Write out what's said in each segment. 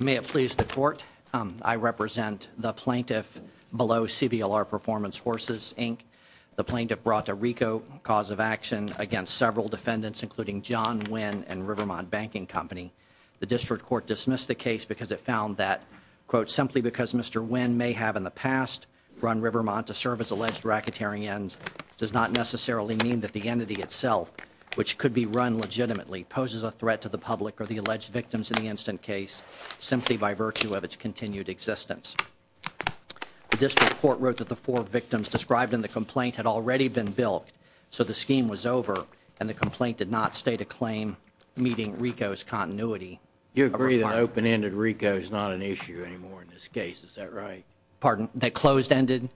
May it please the Court, I represent the plaintiff below CBLR Performance Horses, Inc. The plaintiff brought a RICO cause of action against several defendants, including John Wynne and Rivermont Banking Company. The District Court dismissed the case because it found that, quote, simply because Mr. Wynne may have in the past run Rivermont to serve as alleged racketeering ends, does not necessarily mean that the entity itself, which could be run legitimately, poses a threat to the public or the alleged victims in the instant case, simply by virtue of its continued existence. The District Court wrote that the four victims described in the complaint had already been bilked, so the scheme was over and the complaint did not state a claim meeting RICO's continuity. You agree that open-ended RICO is not an issue anymore in this case, is that right? Pardon, that closed-ended?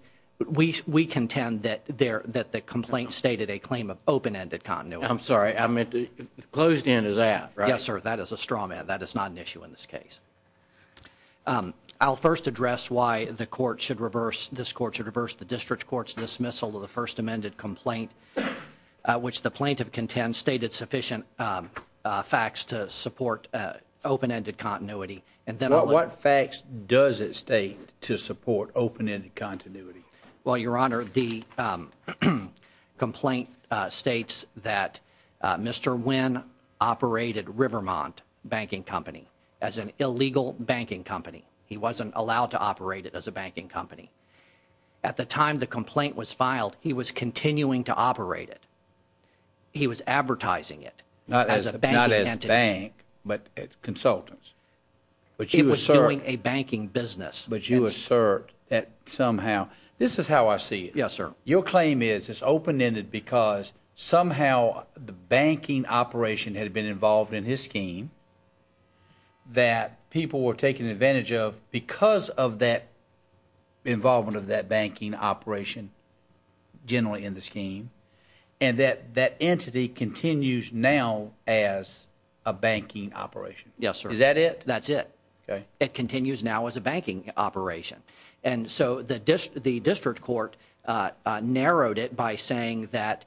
We contend that the complaint stated a claim of open-ended continuity. I'm sorry, I meant closed-end is out, right? Yes, sir, that is a strawman, that is not an issue in this case. I'll first address why this Court should reverse the District Court's dismissal of the first amended complaint, which the plaintiff contends stated sufficient facts to support open-ended continuity. What facts does it state to support open-ended continuity? Well, Your Honor, the complaint states that Mr. Wynne operated Rivermont Banking Company as an illegal banking company. He wasn't allowed to operate it as a banking company. At the time the complaint was filed, he was continuing to operate it. He was advertising it as a banking entity. Not as a bank, but consultants. It was doing a banking business. But you assert that somehow, this is how I see it. Yes, sir. Your claim is it's open-ended because somehow the banking operation had been involved in his scheme that people were taking advantage of because of that involvement of that banking operation generally in the scheme and that that entity continues now as a banking operation. Yes, sir. Is that it? That's it. It continues now as a banking operation. And so the district court narrowed it by saying that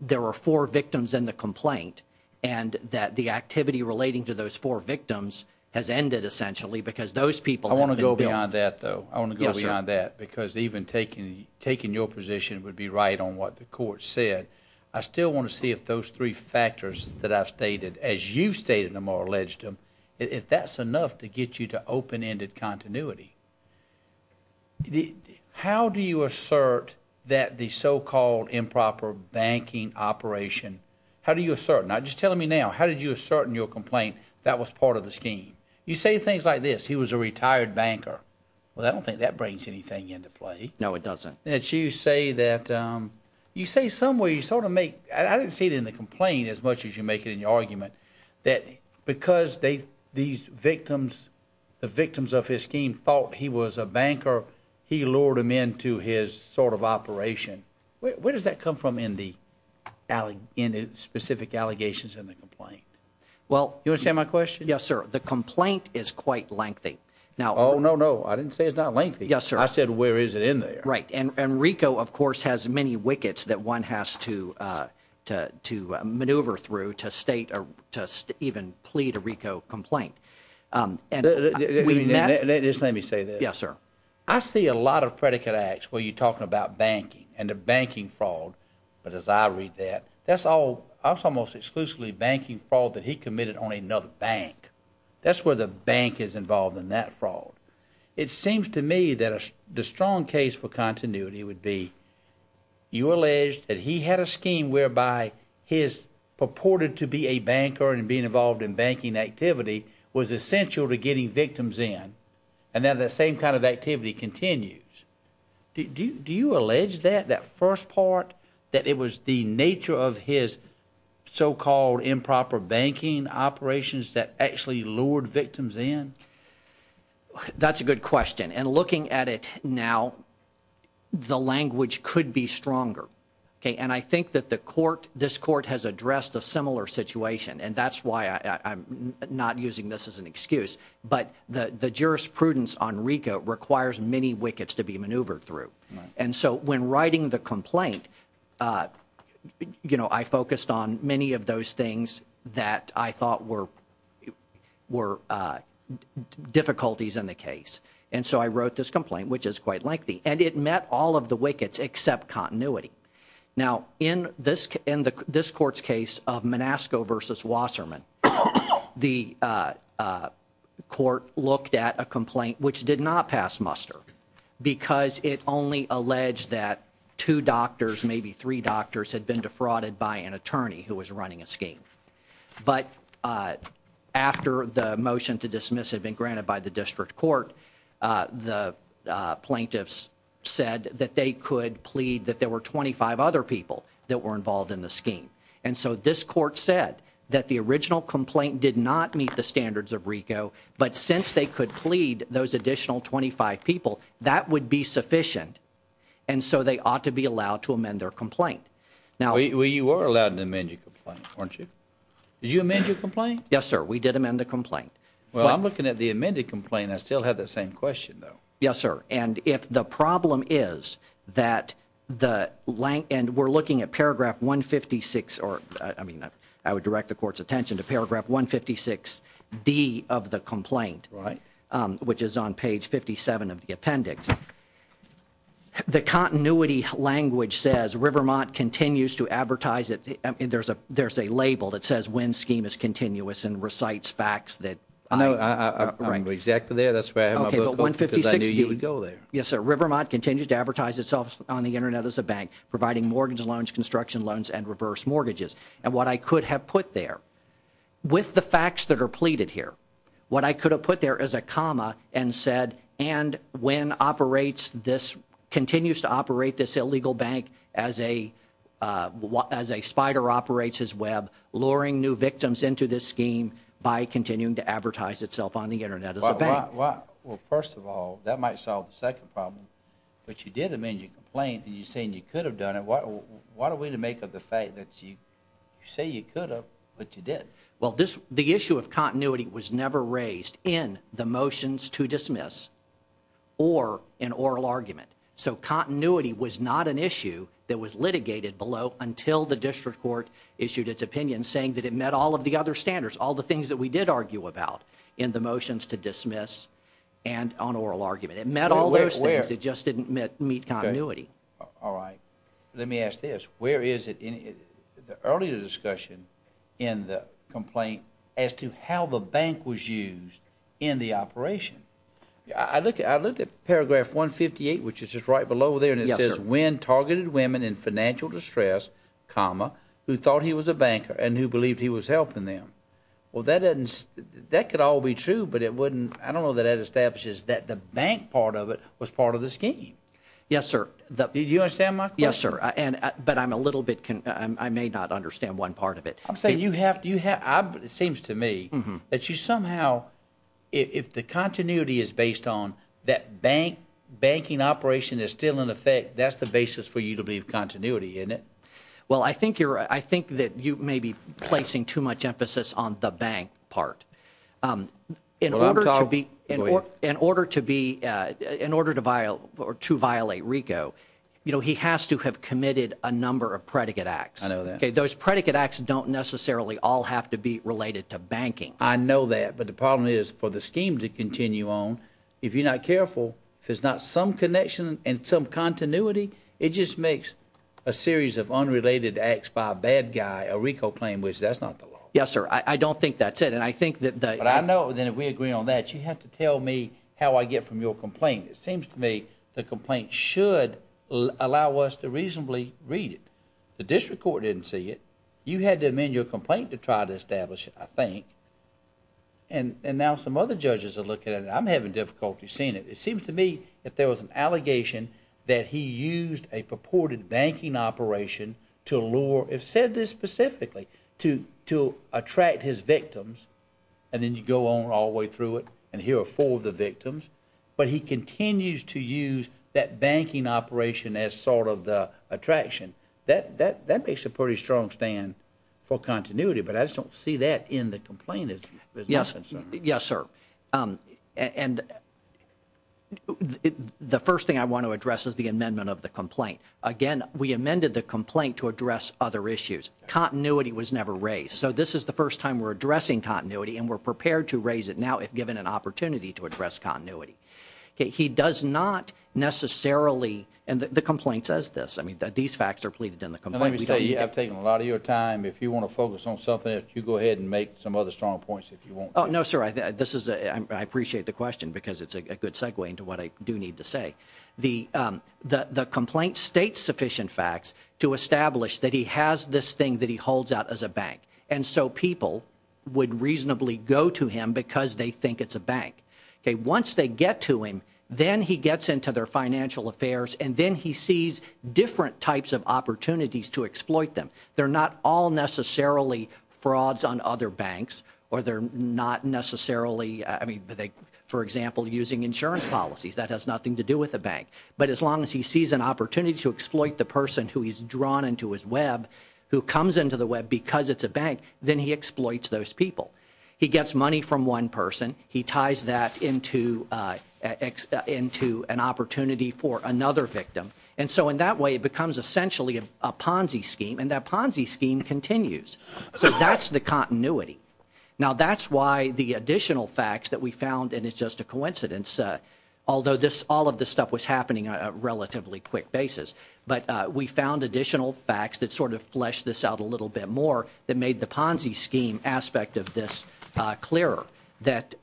there were four victims in the complaint and that the activity relating to those four victims has ended essentially because those people have been billed. I want to go beyond that, though. I want to go beyond that. Yes, sir. Because even taking your position would be right on what the court said. I still want to see if those three factors that I've stated, as you've stated them or alleged them, if that's enough to get you to open-ended continuity. How do you assert that the so-called improper banking operation, how do you assert? Now, just tell me now, how did you assert in your complaint that was part of the scheme? You say things like this. He was a retired banker. Well, I don't think that brings anything into play. No, it doesn't. You say somewhere you sort of make, I didn't see it in the complaint as much as you make it in your argument, that because these victims, the victims of his scheme thought he was a banker, he lured them into his sort of operation. Where does that come from in the specific allegations in the complaint? You understand my question? Yes, sir. The complaint is quite lengthy. Oh, no, no. I didn't say it's not lengthy. Yes, sir. I said where is it in there. Right. And RICO, of course, has many wickets that one has to maneuver through to state or to even plead a RICO complaint. Just let me say this. Yes, sir. I see a lot of predicate acts where you're talking about banking and the banking fraud, but as I read that, that's almost exclusively banking fraud that he committed on another bank. That's where the bank is involved in that fraud. It seems to me that the strong case for continuity would be you allege that he had a scheme whereby his purported to be a banker and being involved in banking activity was essential to getting victims in, and now that same kind of activity continues. Do you allege that, that first part, that it was the nature of his so-called improper banking operations that actually lured victims in? That's a good question. And looking at it now, the language could be stronger. And I think that the court, this court has addressed a similar situation, and that's why I'm not using this as an excuse, but the jurisprudence on RICO requires many wickets to be maneuvered through. And so when writing the complaint, you know, I focused on many of those things that I thought were difficulties in the case. And so I wrote this complaint, which is quite lengthy, and it met all of the wickets except continuity. Now, in this court's case of Manasco versus Wasserman, the court looked at a complaint which did not pass muster because it only alleged that two doctors, maybe three doctors, had been defrauded by an attorney who was running a scheme. But after the motion to dismiss had been granted by the district court, the plaintiffs said that they could plead that there were 25 other people that were involved in the scheme. And so this court said that the original complaint did not meet the standards of RICO, but since they could plead those additional 25 people, that would be sufficient. And so they ought to be allowed to amend their complaint. Well, you were allowed to amend your complaint, weren't you? Did you amend your complaint? Yes, sir. We did amend the complaint. Well, I'm looking at the amended complaint. I still have the same question, though. Yes, sir. And if the problem is that the length and we're looking at paragraph 156, or I mean, I would direct the court's attention to paragraph 156D of the complaint, which is on page 57 of the appendix. The continuity language says Rivermont continues to advertise it. And there's a there's a label that says when scheme is continuous and recites facts that I know exactly there. That's right. But 156, you would go there. Yes, sir. Rivermont continues to advertise itself on the Internet as a bank, providing mortgage loans, construction loans and reverse mortgages. And what I could have put there with the facts that are pleaded here, what I could have put there as a comma and said, and when operates, this continues to operate this illegal bank as a as a spider operates his web, luring new victims into this scheme by continuing to advertise itself on the Internet as a bank. Well, first of all, that might solve the second problem. But you did amend your complaint and you're saying you could have done it. Why are we to make of the fact that you say you could have, but you did? Well, this the issue of continuity was never raised in the motions to dismiss or an oral argument. So continuity was not an issue that was litigated below until the district court issued its opinion, saying that it met all of the other standards, all the things that we did argue about in the motions to dismiss and on oral argument. It met all those things. It just didn't meet continuity. All right. Let me ask this. Where is it in the earlier discussion in the complaint as to how the bank was used in the operation? I look at I looked at paragraph 158, which is just right below there. And it says when targeted women in financial distress, comma, who thought he was a banker and who believed he was helping them. Well, that that could all be true, but it wouldn't. I don't know that it establishes that the bank part of it was part of the scheme. Yes, sir. The US. Yes, sir. And but I'm a little bit. I may not understand one part of it. I'm saying you have to you have. It seems to me that you somehow if the continuity is based on that bank banking operation is still in effect. That's the basis for you to leave continuity in it. Well, I think you're I think that you may be placing too much emphasis on the bank part. In order to be in order to be in order to buy or to violate Rico, you know, he has to have committed a number of predicate acts. I know that those predicate acts don't necessarily all have to be related to banking. I know that. But the problem is for the scheme to continue on. If you're not careful, there's not some connection and some continuity. It just makes a series of unrelated acts by a bad guy. Rico claim, which that's not the law. Yes, sir. I don't think that's it. And I think that I know that we agree on that. You have to tell me how I get from your complaint. It seems to me the complaint should allow us to reasonably read it. The district court didn't see it. You had to amend your complaint to try to establish, I think. And now some other judges are looking at it. I'm having difficulty seeing it. It seems to me that there was an allegation that he used a purported banking operation to lure. It said this specifically to to attract his victims. And then you go on all the way through it. And here are four of the victims. But he continues to use that banking operation as sort of the attraction that that that makes a pretty strong stand for continuity. But I just don't see that in the complaint. Yes, sir. And the first thing I want to address is the amendment of the complaint. Again, we amended the complaint to address other issues. Continuity was never raised. So this is the first time we're addressing continuity and we're prepared to raise it now if given an opportunity to address continuity. He does not necessarily. And the complaint says this. I mean, these facts are pleaded in the complaint. We have taken a lot of your time. If you want to focus on something, if you go ahead and make some other strong points, if you want. Oh, no, sir. This is I appreciate the question because it's a good segue into what I do need to say. The the complaint states sufficient facts to establish that he has this thing that he holds out as a bank. And so people would reasonably go to him because they think it's a bank. Once they get to him, then he gets into their financial affairs and then he sees different types of opportunities to exploit them. They're not all necessarily frauds on other banks or they're not necessarily. I mean, for example, using insurance policies that has nothing to do with the bank. But as long as he sees an opportunity to exploit the person who he's drawn into his Web, who comes into the Web because it's a bank, then he exploits those people. He gets money from one person. He ties that into X into an opportunity for another victim. And so in that way, it becomes essentially a Ponzi scheme and that Ponzi scheme continues. So that's the continuity. Now, that's why the additional facts that we found. And it's just a coincidence, although this all of this stuff was happening on a relatively quick basis. But we found additional facts that sort of flesh this out a little bit more that made the Ponzi scheme aspect of this clearer. That,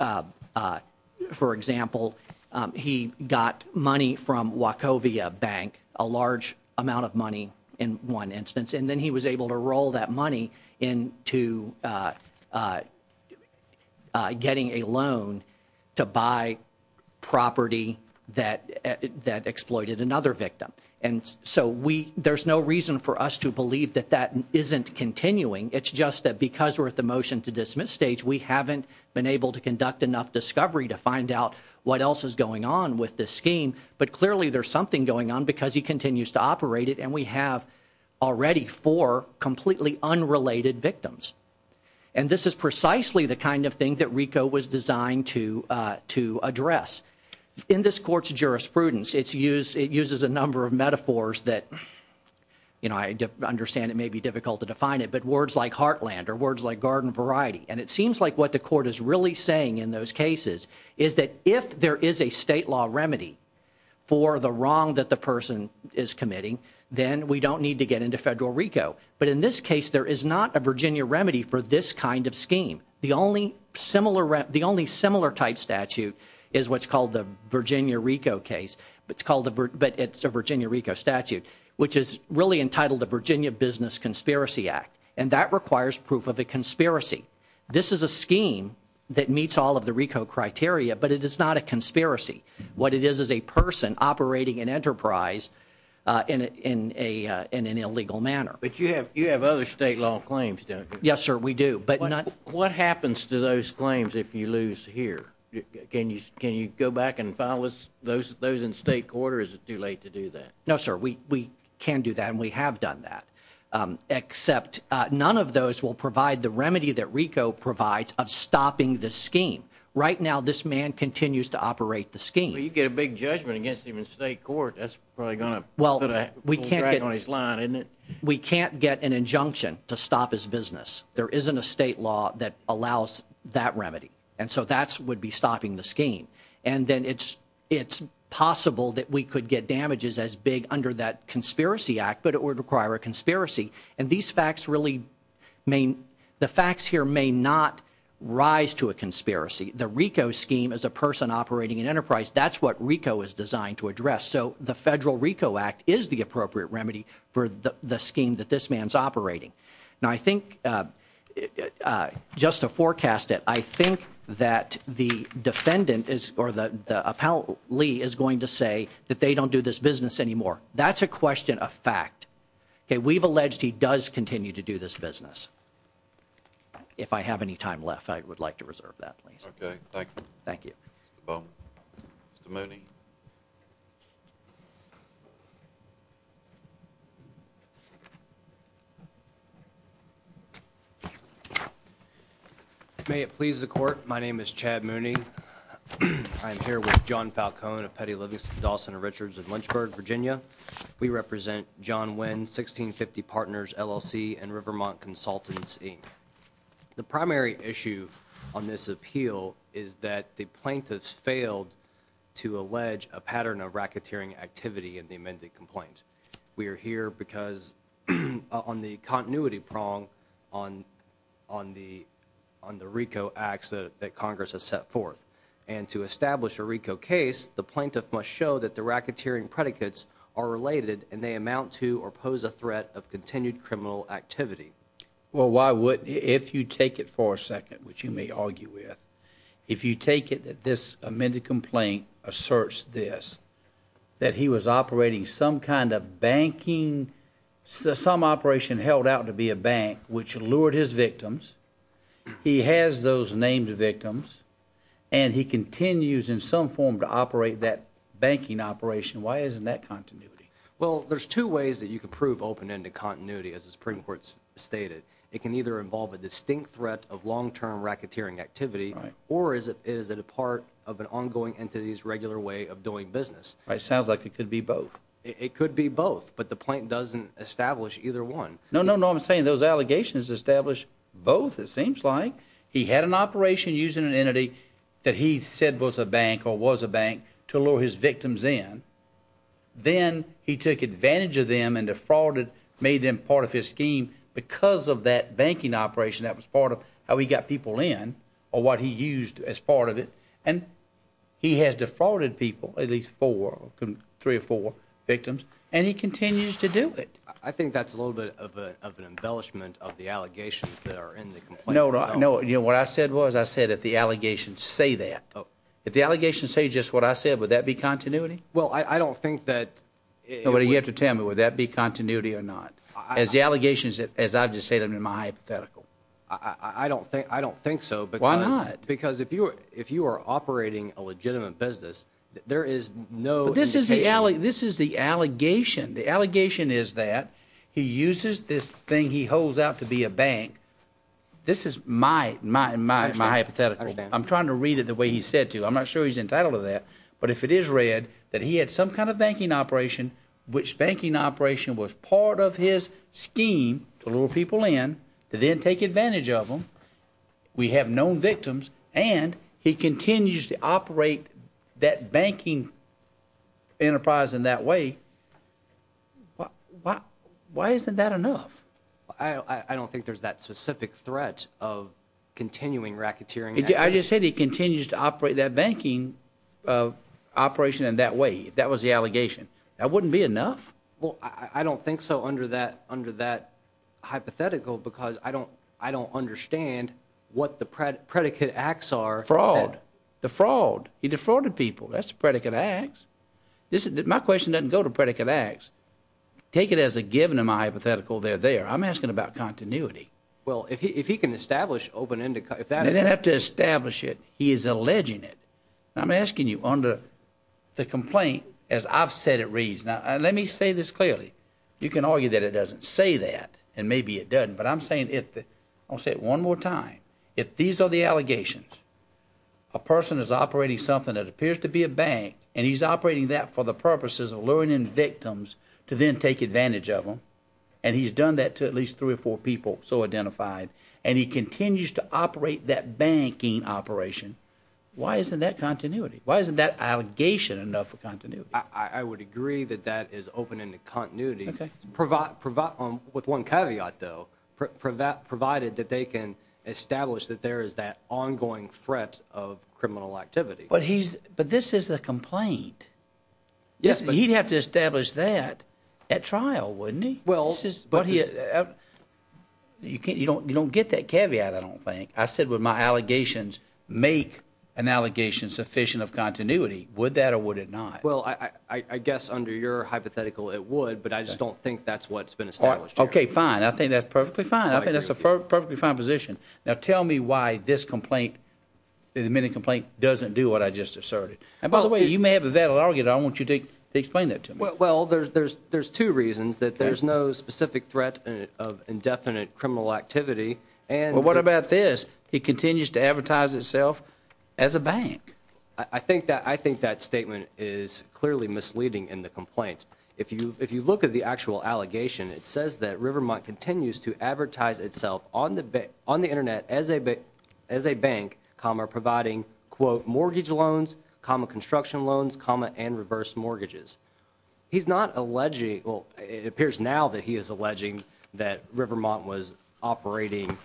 for example, he got money from Wachovia Bank, a large amount of money in one instance. And then he was able to roll that money in to getting a loan to buy property that that exploited another victim. And so we there's no reason for us to believe that that isn't continuing. It's just that because we're at the motion to dismiss stage, we haven't been able to conduct enough discovery to find out what else is going on with this scheme. But clearly, there's something going on because he continues to operate it. And we have already four completely unrelated victims. And this is precisely the kind of thing that Rico was designed to to address in this court's jurisprudence. It's used it uses a number of metaphors that, you know, I understand it may be difficult to define it. But words like heartland or words like garden variety. And it seems like what the court is really saying in those cases is that if there is a state law remedy for the wrong that the person is committing, then we don't need to get into federal Rico. But in this case, there is not a Virginia remedy for this kind of scheme. The only similar the only similar type statute is what's called the Virginia Rico case. But it's called the but it's a Virginia Rico statute, which is really entitled the Virginia Business Conspiracy Act. And that requires proof of a conspiracy. This is a scheme that meets all of the Rico criteria. But it is not a conspiracy. What it is is a person operating an enterprise in a in an illegal manner. But you have you have other state law claims. Yes, sir. We do. But what happens to those claims if you lose here? Can you can you go back and file those those in state court or is it too late to do that? No, sir. We can do that. And we have done that, except none of those will provide the remedy that Rico provides of stopping the scheme. Right now, this man continues to operate the scheme. You get a big judgment against him in state court. That's probably going to. Well, we can't get on his line and we can't get an injunction to stop his business. There isn't a state law that allows that remedy. And so that's would be stopping the scheme. And then it's it's possible that we could get damages as big under that conspiracy act. But it would require a conspiracy. And these facts really mean the facts here may not rise to a conspiracy. The Rico scheme is a person operating an enterprise. That's what Rico is designed to address. So the federal Rico act is the appropriate remedy for the scheme that this man's operating. Now, I think just to forecast it, I think that the defendant is or the appellate Lee is going to say that they don't do this business anymore. That's a question of fact. We've alleged he does continue to do this business. If I have any time left, I would like to reserve that. OK, thank you. Thank you. Mr. Mooney. May it please the court. My name is Chad Mooney. I'm here with John Falcone of Petty Livingston, Dawson and Richards in Lynchburg, Virginia. We represent John Wynn, 1650 Partners LLC and Rivermont Consultancy. The primary issue on this appeal is that the plaintiffs failed to allege a pattern of racketeering activity in the amended complaint. We are here because on the continuity prong on on the on the Rico acts that Congress has set forth. And to establish a Rico case, the plaintiff must show that the racketeering predicates are related and they amount to or pose a threat of continued criminal activity. Well, why would if you take it for a second, which you may argue with, if you take it that this amended complaint asserts this, that he was operating some kind of banking, some operation held out to be a bank which lured his victims. He has those named victims and he continues in some form to operate that banking operation. Why isn't that continuity? Well, there's two ways that you can prove open into continuity. As the Supreme Court stated, it can either involve a distinct threat of long term racketeering activity. Or is it is it a part of an ongoing entities regular way of doing business? It sounds like it could be both. It could be both. But the point doesn't establish either one. No, no, no. I'm saying those allegations establish both. It seems like he had an operation using an entity that he said was a bank or was a bank to lure his victims in. Then he took advantage of them and defrauded, made them part of his scheme because of that banking operation. That was part of how he got people in or what he used as part of it. And he has defrauded people, at least four, three or four victims. And he continues to do it. I think that's a little bit of an embellishment of the allegations that are in the complaint. No, no. You know what I said was I said that the allegations say that if the allegations say just what I said, would that be continuity? Well, I don't think that. What do you have to tell me? Would that be continuity or not? As the allegations, as I just said, I'm in my hypothetical. I don't think I don't think so. But why not? Because if you if you are operating a legitimate business, there is no. This is the alley. This is the allegation. The allegation is that he uses this thing he holds out to be a bank. This is my, my, my, my hypothetical. I'm trying to read it the way he said to you. I'm not sure he's entitled to that. But if it is read that he had some kind of banking operation, which banking operation was part of his scheme to lure people in to then take advantage of them. We have known victims and he continues to operate that banking enterprise in that way. But why? Why isn't that enough? I don't think there's that specific threat of continuing racketeering. I just said he continues to operate that banking operation in that way. That was the allegation. That wouldn't be enough. Well, I don't think so. Under that, under that hypothetical, because I don't I don't understand what the predicate acts are. Fraud. The fraud. He defrauded people. That's predicate acts. This is my question. Doesn't go to predicate acts. Take it as a given in my hypothetical. They're there. I'm asking about continuity. Well, if he if he can establish open if that doesn't have to establish it, he is alleging it. I'm asking you under the complaint, as I've said, it reads. Now, let me say this clearly. You can argue that it doesn't say that. And maybe it doesn't. But I'm saying it. I'll say it one more time. If these are the allegations, a person is operating something that appears to be a bank and he's operating that for the purposes of learning victims to then take advantage of them. And he's done that to at least three or four people. So identified. And he continues to operate that banking operation. Why isn't that continuity? Why isn't that allegation enough for continuity? I would agree that that is open in the continuity. Provide provide with one caveat, though, provide provided that they can establish that there is that ongoing threat of criminal activity. But he's but this is the complaint. Yes, but he'd have to establish that at trial, wouldn't he? Well, but you can't you don't you don't get that caveat. I don't think I said with my allegations, make an allegation sufficient of continuity. Would that or would it not? Well, I guess under your hypothetical, it would. But I just don't think that's what's been established. OK, fine. I think that's perfectly fine. I think that's a perfectly fine position. Now, tell me why this complaint, the minute complaint doesn't do what I just asserted. And by the way, you may have a valid argument. I want you to explain that to me. Well, there's there's there's two reasons that there's no specific threat of indefinite criminal activity. And what about this? He continues to advertise itself as a bank. I think that I think that statement is clearly misleading in the complaint. If you if you look at the actual allegation, it says that Rivermont continues to advertise itself on the on the Internet as a as a bank, comma, providing, quote, mortgage loans, common construction loans, comma, and reverse mortgages. He's not alleging. Well, it appears now that he is alleging that Rivermont was operating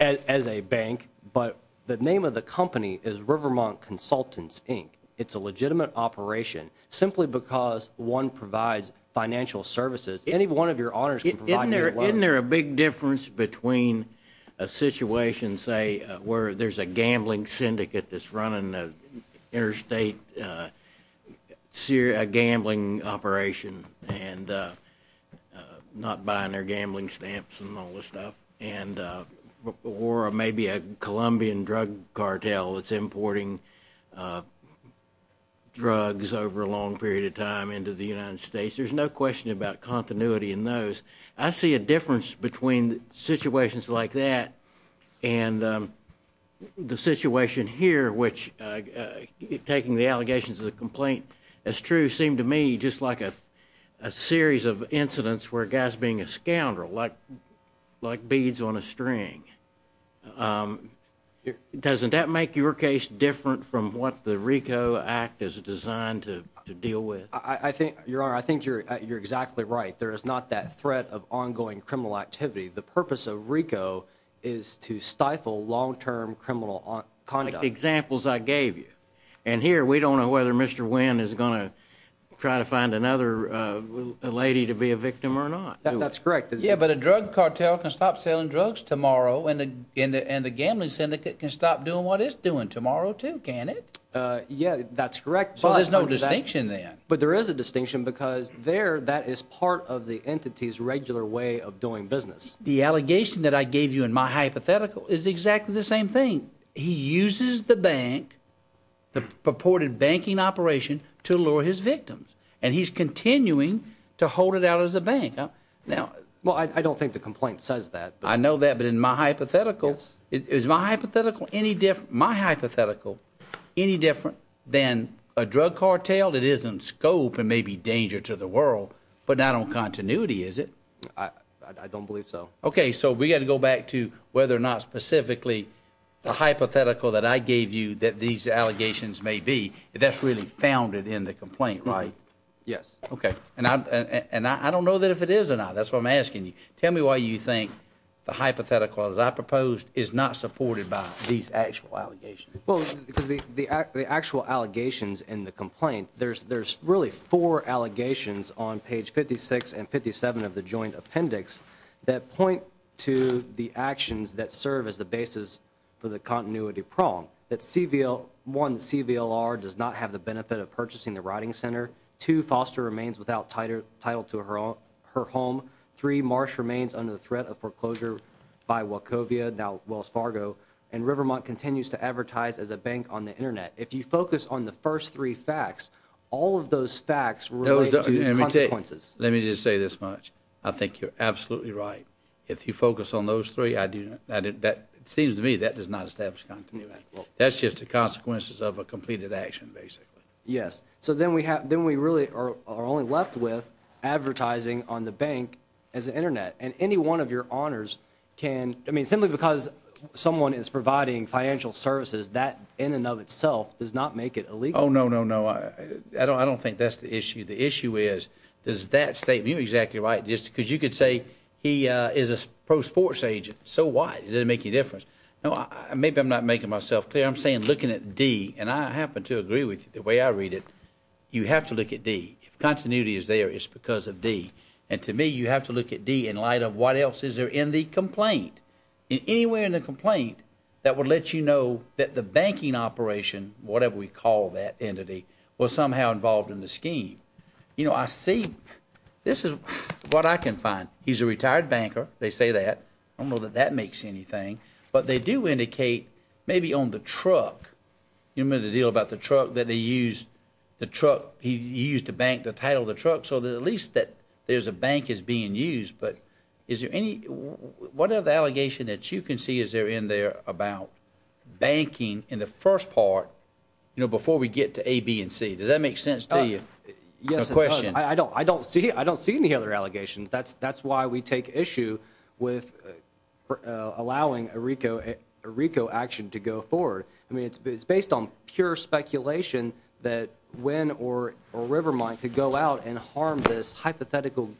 as a bank. But the name of the company is Rivermont Consultants, Inc. It's a legitimate operation simply because one provides financial services. Any one of your honors. Isn't there a big difference between a situation, say, where there's a gambling syndicate that's running an interstate gambling operation and not buying their gambling stamps and all this stuff? And or maybe a Colombian drug cartel, it's importing drugs over a long period of time into the United States. There's no question about continuity in those. I see a difference between situations like that and the situation here, which taking the allegations of the complaint. As true seem to me, just like a series of incidents where gas being a scoundrel like like beads on a string. Doesn't that make your case different from what the Rico act is designed to deal with? I think you're I think you're you're exactly right. There is not that threat of ongoing criminal activity. The purpose of Rico is to stifle long term criminal conduct. And here we don't know whether Mr. Wynn is going to try to find another lady to be a victim or not. That's correct. Yeah. But a drug cartel can stop selling drugs tomorrow and in the end, the gambling syndicate can stop doing what it's doing tomorrow, too. Can it? Yeah, that's correct. So there's no distinction there. But there is a distinction because there that is part of the entity's regular way of doing business. The allegation that I gave you in my hypothetical is exactly the same thing. He uses the bank, the purported banking operation to lure his victims and he's continuing to hold it out as a bank. Now, well, I don't think the complaint says that. I know that. But in my hypotheticals, is my hypothetical any different? My hypothetical any different than a drug cartel? It isn't scope and maybe danger to the world, but not on continuity, is it? I don't believe so. OK, so we got to go back to whether or not specifically the hypothetical that I gave you that these allegations may be. That's really founded in the complaint, right? Yes. OK. And I don't know that if it is or not. That's what I'm asking you. Tell me why you think the hypothetical, as I proposed, is not supported by these actual allegations. Well, because the the the actual allegations in the complaint, there's there's really four allegations on page fifty six and fifty seven of the joint appendix that point to the actions that serve as the basis for the continuity prong. Let me just say this much. I think you're absolutely right. If you focus on those three, I do. That seems to me that does not establish continuity. That's just the consequences of a completed action, basically. Yes. So then we have then we really are only left with advertising on the bank as the Internet. And any one of your honors can. I mean, simply because someone is providing financial services that in and of itself does not make it illegal. Oh, no, no, no. I don't I don't think that's the issue. The issue is, is that statement exactly right? Just because you could say he is a pro sports agent. So why does it make a difference? Maybe I'm not making myself clear. I'm saying looking at D and I happen to agree with the way I read it. You have to look at D. Continuity is there is because of D. And to me, you have to look at D in light of what else is there in the complaint, anywhere in the complaint that would let you know that the banking operation, whatever we call that entity, was somehow involved in the scheme. You know, I see this is what I can find. He's a retired banker. They say that. I don't know that that makes anything. But they do indicate maybe on the truck. You remember the deal about the truck that they use the truck? He used to bank the title of the truck. So at least that there's a bank is being used. But is there any whatever the allegation that you can see is there in there about banking in the first part, you know, before we get to A, B and C. Does that make sense to you? Yes. I don't I don't see. I don't see any other allegations. That's that's why we take issue with allowing a Rico Rico action to go forward. I mean, it's based on pure speculation that when or a river might to go out and harm this hypothetical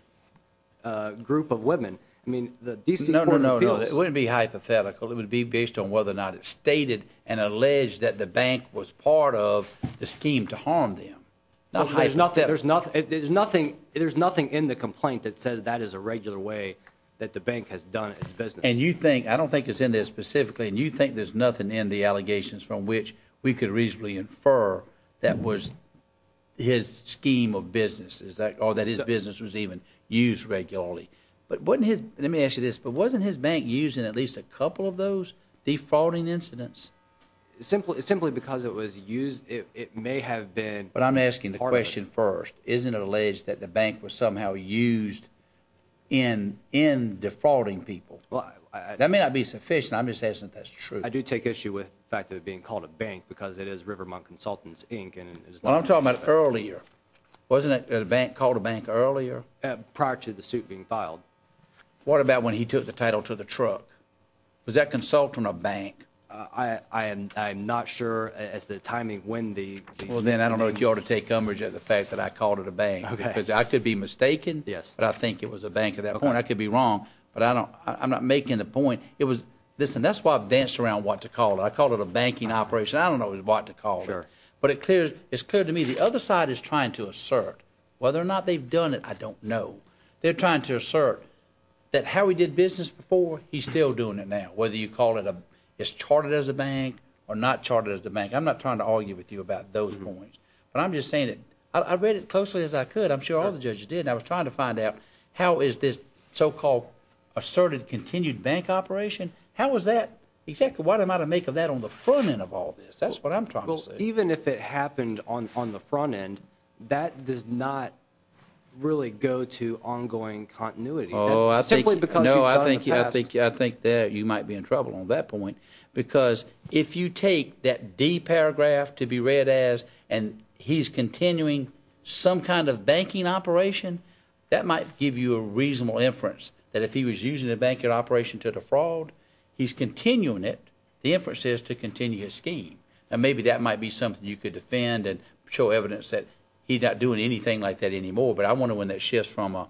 group of women. I mean, the D.C. No, no, no. It wouldn't be hypothetical. It would be based on whether or not it stated and alleged that the bank was part of the scheme to harm them. Now, there's nothing there's nothing. There's nothing. There's nothing in the complaint that says that is a regular way that the bank has done its business. And you think I don't think it's in this specifically. And you think there's nothing in the allegations from which we could reasonably infer that was his scheme of businesses or that his business was even used regularly. But wouldn't his let me ask you this. But wasn't his bank using at least a couple of those defrauding incidents simply simply because it was used? It may have been. But I'm asking the question first. Isn't it alleged that the bank was somehow used in in defrauding people? Well, that may not be sufficient. I'm just asking if that's true. I do take issue with the fact that being called a bank because it is Rivermont Consultants, Inc. And I'm talking about earlier. Wasn't it a bank called a bank earlier prior to the suit being filed? What about when he took the title to the truck? Was that consultant a bank? I am not sure as the timing when the well, then I don't know if you ought to take coverage of the fact that I called it a bank because I could be mistaken. Yes, but I think it was a bank at that point. I could be wrong, but I don't I'm not making the point. It was this. And that's why I've danced around what to call it. I call it a banking operation. I don't know what to call her, but it is clear to me the other side is trying to assert whether or not they've done it. I don't know. They're trying to assert that how we did business before. He's still doing it now, whether you call it a is charted as a bank or not charted as the bank. I'm not trying to argue with you about those points, but I'm just saying it. I read it closely as I could. I'm sure all the judges did. I was trying to find out how is this so-called asserted continued bank operation? How was that exactly? What am I to make of that on the front end of all this? That's what I'm trying to say. Even if it happened on on the front end, that does not really go to ongoing continuity. No, I think you might be in trouble on that point because if you take that D paragraph to be read as and he's continuing some kind of banking operation, that might give you a reasonable inference that if he was using the banking operation to defraud, he's continuing it. The inference is to continue his scheme. And maybe that might be something you could defend and show evidence that he's not doing anything like that anymore. But I want to win that shift from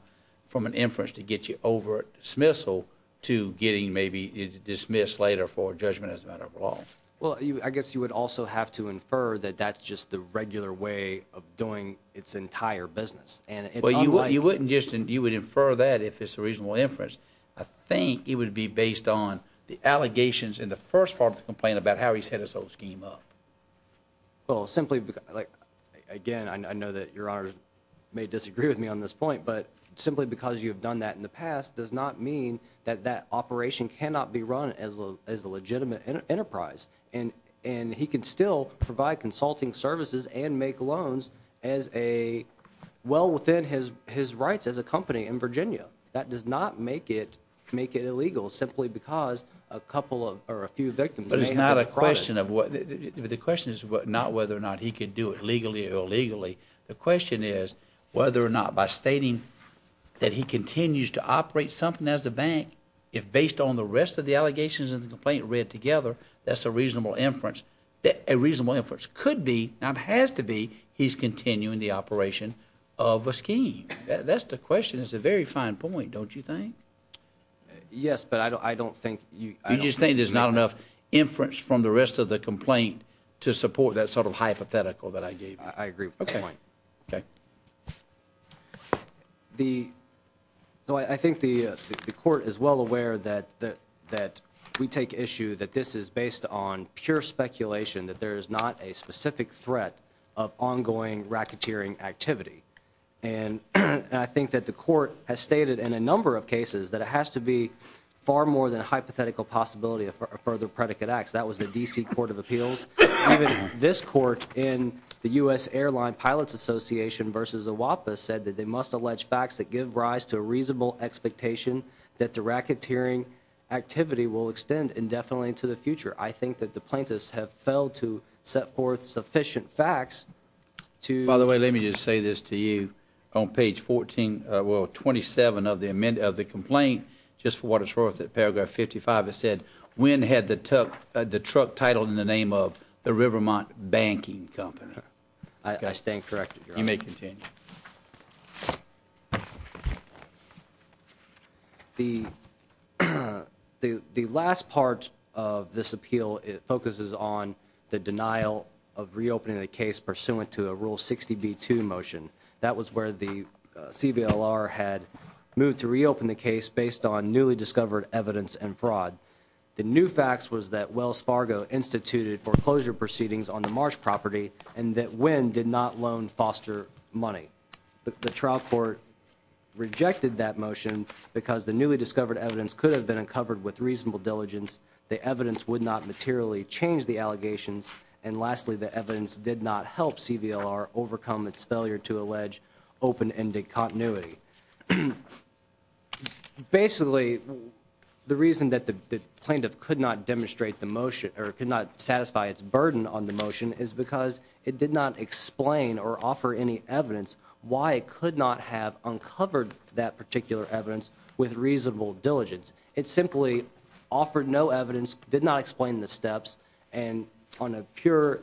from an inference to get you over dismissal to getting maybe dismissed later for judgment as a matter of law. Well, I guess you would also have to infer that that's just the regular way of doing its entire business. And you wouldn't just and you would infer that if it's a reasonable inference. I think it would be based on the allegations in the first part of the complaint about how he set his own scheme up. Well, simply like again, I know that your honor may disagree with me on this point, but simply because you have done that in the past does not mean that that operation cannot be run as a as a legitimate enterprise. And and he can still provide consulting services and make loans as a well within his his rights as a company in Virginia. That does not make it make it illegal simply because a couple of or a few victims. But it's not a question of what the question is, not whether or not he could do it legally or illegally. The question is whether or not by stating that he continues to operate something as a bank, if based on the rest of the allegations of the complaint read together, that's a reasonable inference. A reasonable inference could be not has to be he's continuing the operation of a scheme. That's the question is a very fine point, don't you think? Yes, but I don't think you just think there's not enough inference from the rest of the complaint to support that sort of hypothetical that I gave. I agree. OK. The so I think the court is well aware that that that we take issue that this is based on pure speculation, that there is not a specific threat of ongoing racketeering activity. And I think that the court has stated in a number of cases that it has to be far more than hypothetical possibility of further predicate acts. That was the D.C. Court of Appeals. This court in the U.S. Airline Pilots Association versus a WAPA said that they must allege facts that give rise to a reasonable expectation that the racketeering activity will extend indefinitely to the future. I think that the plaintiffs have failed to set forth sufficient facts to. By the way, let me just say this to you on page 14 or 27 of the amendment of the complaint. Just for what it's worth, that paragraph fifty five said when had the took the truck titled in the name of the Rivermont Banking Company? I stand corrected. You may continue. The the the last part of this appeal, it focuses on the denial of reopening the case pursuant to a rule 60 B2 motion. That was where the CBLR had moved to reopen the case based on newly discovered evidence and fraud. The new facts was that Wells Fargo instituted foreclosure proceedings on the Marsh property and that when did not loan foster money. The trial court rejected that motion because the newly discovered evidence could have been uncovered with reasonable diligence. The evidence would not materially change the allegations. And lastly, the evidence did not help CVR overcome its failure to allege open ended continuity. Basically, the reason that the plaintiff could not demonstrate the motion or could not satisfy its burden on the motion is because it did not explain or offer any evidence. Why it could not have uncovered that particular evidence with reasonable diligence. It simply offered no evidence, did not explain the steps and on a pure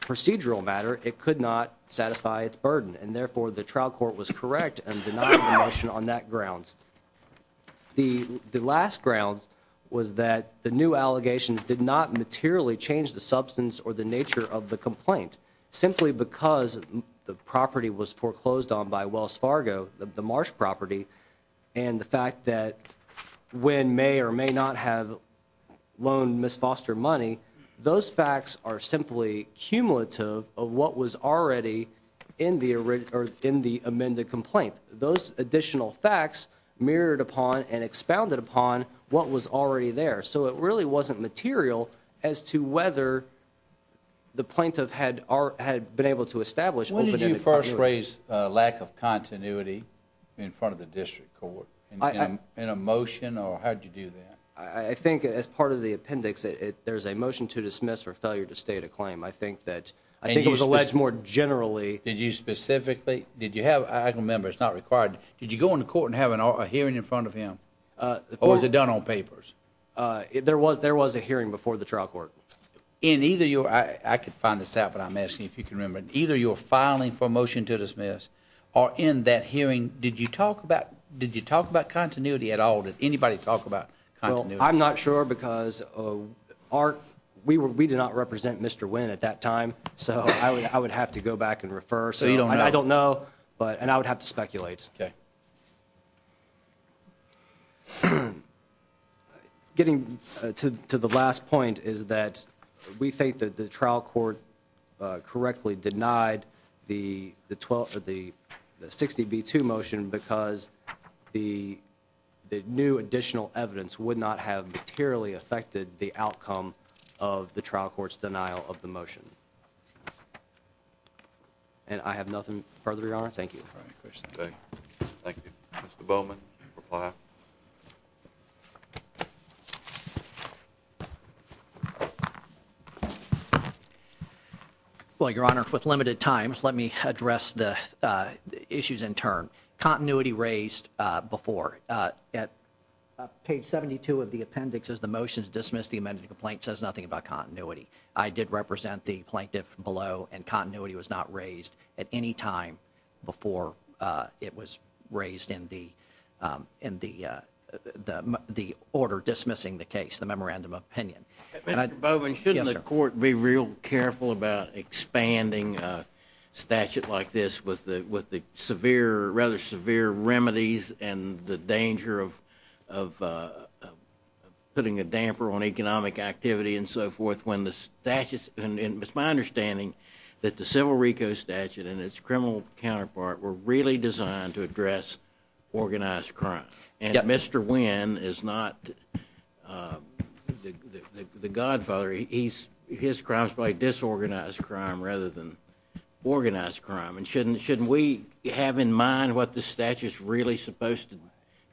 procedural matter, it could not satisfy its burden. And therefore, the trial court was correct and the motion on that grounds. The the last grounds was that the new allegations did not materially change the substance or the nature of the complaint, simply because the property was foreclosed on by Wells Fargo, the Marsh property. And the fact that when may or may not have loan misfoster money. Those facts are simply cumulative of what was already in the or in the amended complaint. Those additional facts mirrored upon and expounded upon what was already there. So it really wasn't material as to whether. The plaintiff had had been able to establish when did you first raise a lack of continuity in front of the district court in a motion or how did you do that? I think as part of the appendix, there's a motion to dismiss or failure to state a claim. I think that I think it was alleged more generally. Did you specifically did you have? I remember it's not required. Did you go on the court and have a hearing in front of him? Or was it done on papers? There was there was a hearing before the trial court in either. I could find this out, but I'm asking if you can remember either your filing for a motion to dismiss or in that hearing. Did you talk about did you talk about continuity at all? Did anybody talk about? Well, I'm not sure because of our we were we did not represent Mr. Wynn at that time. So I would I would have to go back and refer. So you don't know. I don't know. But and I would have to speculate. Getting to the last point is that we think that the trial court correctly denied the 12th of the 60 B2 motion because the new additional evidence would not have materially affected the outcome of the trial court's denial of the motion. And I have nothing further on. Thank you. Thank you. Mr. Bowman. Well, Your Honor, with limited time, let me address the issues in turn. Continuity raised before at page 72 of the appendix is the motions dismissed. The amended complaint says nothing about continuity. I did represent the plaintiff below and continuity was not raised at any time before it was raised in the in the the the order dismissing the case, the memorandum of opinion. Bowman, shouldn't the court be real careful about expanding a statute like this with the with the severe, rather severe remedies and the danger of of putting a damper on economic activity and so forth? And it's my understanding that the civil RICO statute and its criminal counterpart were really designed to address organized crime. And Mr. Wynn is not the godfather. He's his crimes by disorganized crime rather than organized crime. And shouldn't shouldn't we have in mind what the statute is really supposed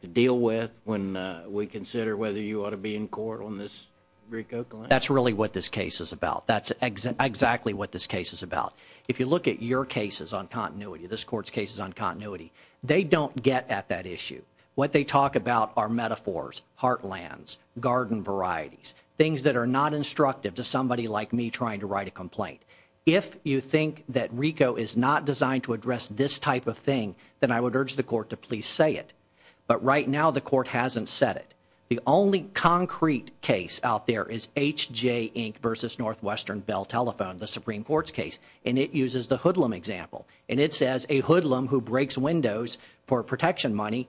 to deal with when we consider whether you ought to be in court on this? That's really what this case is about. That's exactly what this case is about. If you look at your cases on continuity, this court's cases on continuity, they don't get at that issue. What they talk about are metaphors, heartlands, garden varieties, things that are not instructive to somebody like me trying to write a complaint. If you think that RICO is not designed to address this type of thing, then I would urge the court to please say it. But right now the court hasn't said it. The only concrete case out there is H.J. Inc. versus Northwestern Bell Telephone, the Supreme Court's case, and it uses the hoodlum example. And it says a hoodlum who breaks windows for protection money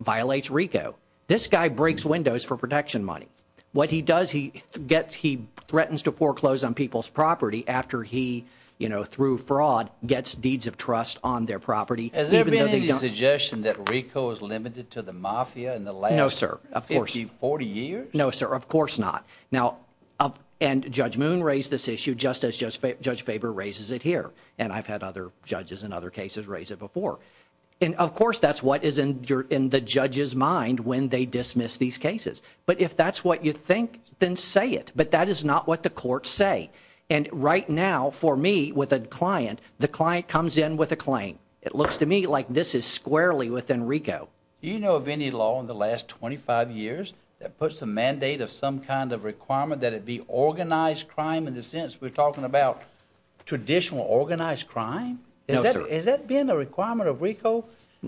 violates RICO. This guy breaks windows for protection money. What he does, he gets he threatens to foreclose on people's property after he, you know, through fraud gets deeds of trust on their property. Has there been any suggestion that RICO is limited to the mafia in the last 50, 40 years? No, sir. Of course not. Now, and Judge Moon raised this issue just as Judge Faber raises it here. And I've had other judges in other cases raise it before. And of course, that's what is in the judge's mind when they dismiss these cases. But if that's what you think, then say it. But that is not what the courts say. And right now for me with a client, the client comes in with a claim. It looks to me like this is squarely within RICO. Do you know of any law in the last 25 years that puts a mandate of some kind of requirement that it be organized crime in the sense we're talking about traditional organized crime? No, sir. Has that been a requirement of RICO?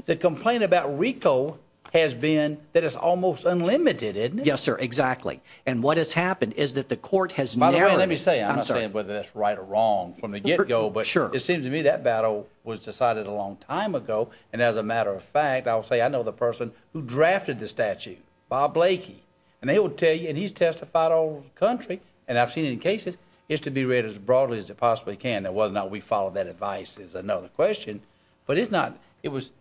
The complaint about RICO has been that it's almost unlimited, isn't it? Yes, sir, exactly. And what has happened is that the court has narrowed. By the way, let me say, I'm not saying whether that's right or wrong from the get-go. Sure. But it seems to me that battle was decided a long time ago. And as a matter of fact, I will say I know the person who drafted the statute, Bob Blakey. And they will tell you, and he's testified all over the country, and I've seen it in cases, it's to be read as broadly as it possibly can. Now whether or not we follow that advice is another question. But it's not, it was,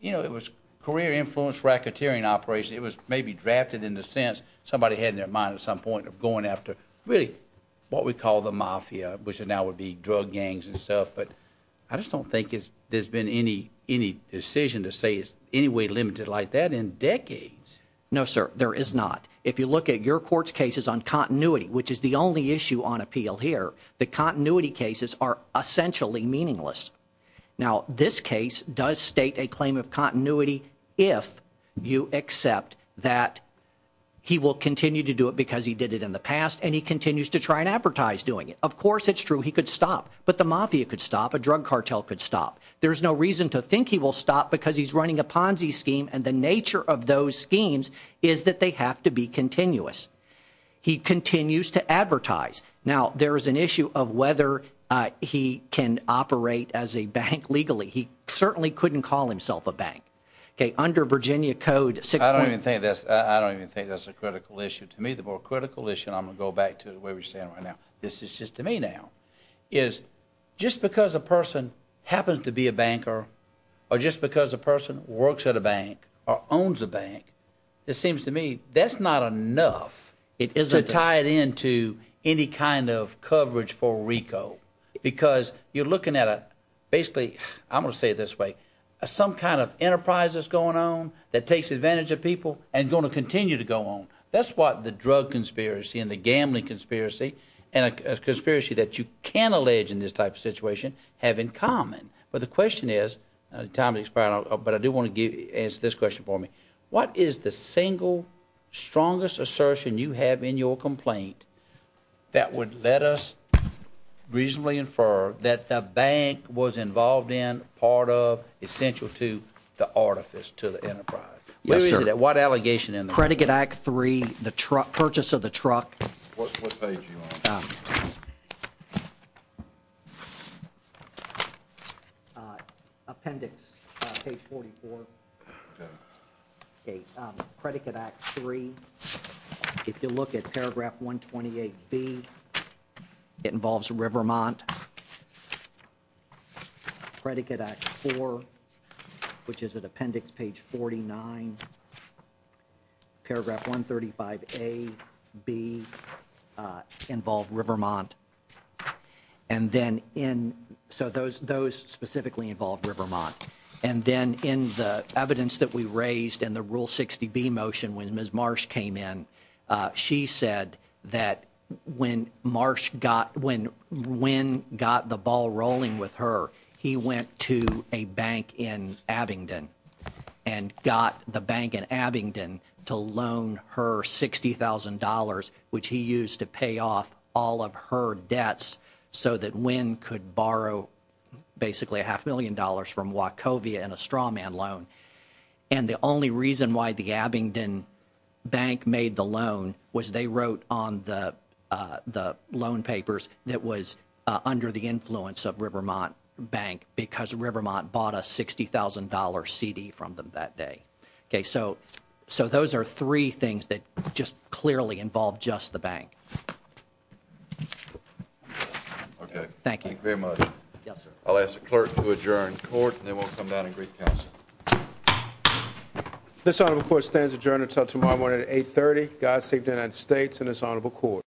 you know, it was career-influenced racketeering operation. It was maybe drafted in the sense somebody had in their mind at some point of going after really what we call the mafia, which now would be drug gangs and stuff. But I just don't think there's been any decision to say it's any way limited like that in decades. No, sir, there is not. If you look at your court's cases on continuity, which is the only issue on appeal here, the continuity cases are essentially meaningless. Now, this case does state a claim of continuity if you accept that he will continue to do it because he did it in the past and he continues to try and advertise doing it. Of course, it's true he could stop. But the mafia could stop. A drug cartel could stop. There's no reason to think he will stop because he's running a Ponzi scheme. And the nature of those schemes is that they have to be continuous. He continues to advertise. Now, there is an issue of whether he can operate as a bank legally. He certainly couldn't call himself a bank. Okay, under Virginia code 6. I don't even think that's a critical issue. To me, the more critical issue, and I'm going to go back to the way we're standing right now, this is just to me now, is just because a person happens to be a banker or just because a person works at a bank or owns a bank, it seems to me that's not enough. It isn't. To tie it into any kind of coverage for RICO because you're looking at basically, I'm going to say it this way, some kind of enterprise that's going on that takes advantage of people and going to continue to go on. That's what the drug conspiracy and the gambling conspiracy and a conspiracy that you can allege in this type of situation have in common. But the question is, time is expiring, but I do want to answer this question for me. What is the single strongest assertion you have in your complaint that would let us reasonably infer that the bank was involved in, part of, essential to the artifice, to the enterprise? Yes, sir. What is it? What allegation? Predicate Act 3, the purchase of the truck. What page are you on? Uh. Uh, appendix page 44. Predicate Act 3. If you look at paragraph 128B, it involves Rivermont. Predicate Act 4, which is an appendix page 49. Paragraph 135A, B, involve Rivermont. And then in, so those, those specifically involve Rivermont. And then in the evidence that we raised in the Rule 60B motion, when Ms. Marsh came in, she said that when Marsh got, when Wynn got the ball rolling with her, he went to a bank in Abingdon and got the bank in Abingdon to loan her $60,000, which he used to pay off all of her debts so that Wynn could borrow basically a half million dollars from Wachovia in a straw man loan. And the only reason why the Abingdon bank made the loan was they wrote on the, the loan papers that was under the influence of Rivermont Bank because Rivermont bought a $60,000 CD from them that day. Okay, so, so those are three things that just clearly involve just the bank. Okay. Thank you. Thank you very much. Yes, sir. I'll ask the clerk to adjourn court and then we'll come down and greet the council. This honorable court stands adjourned until tomorrow morning at 8.30. God save the United States and this honorable court.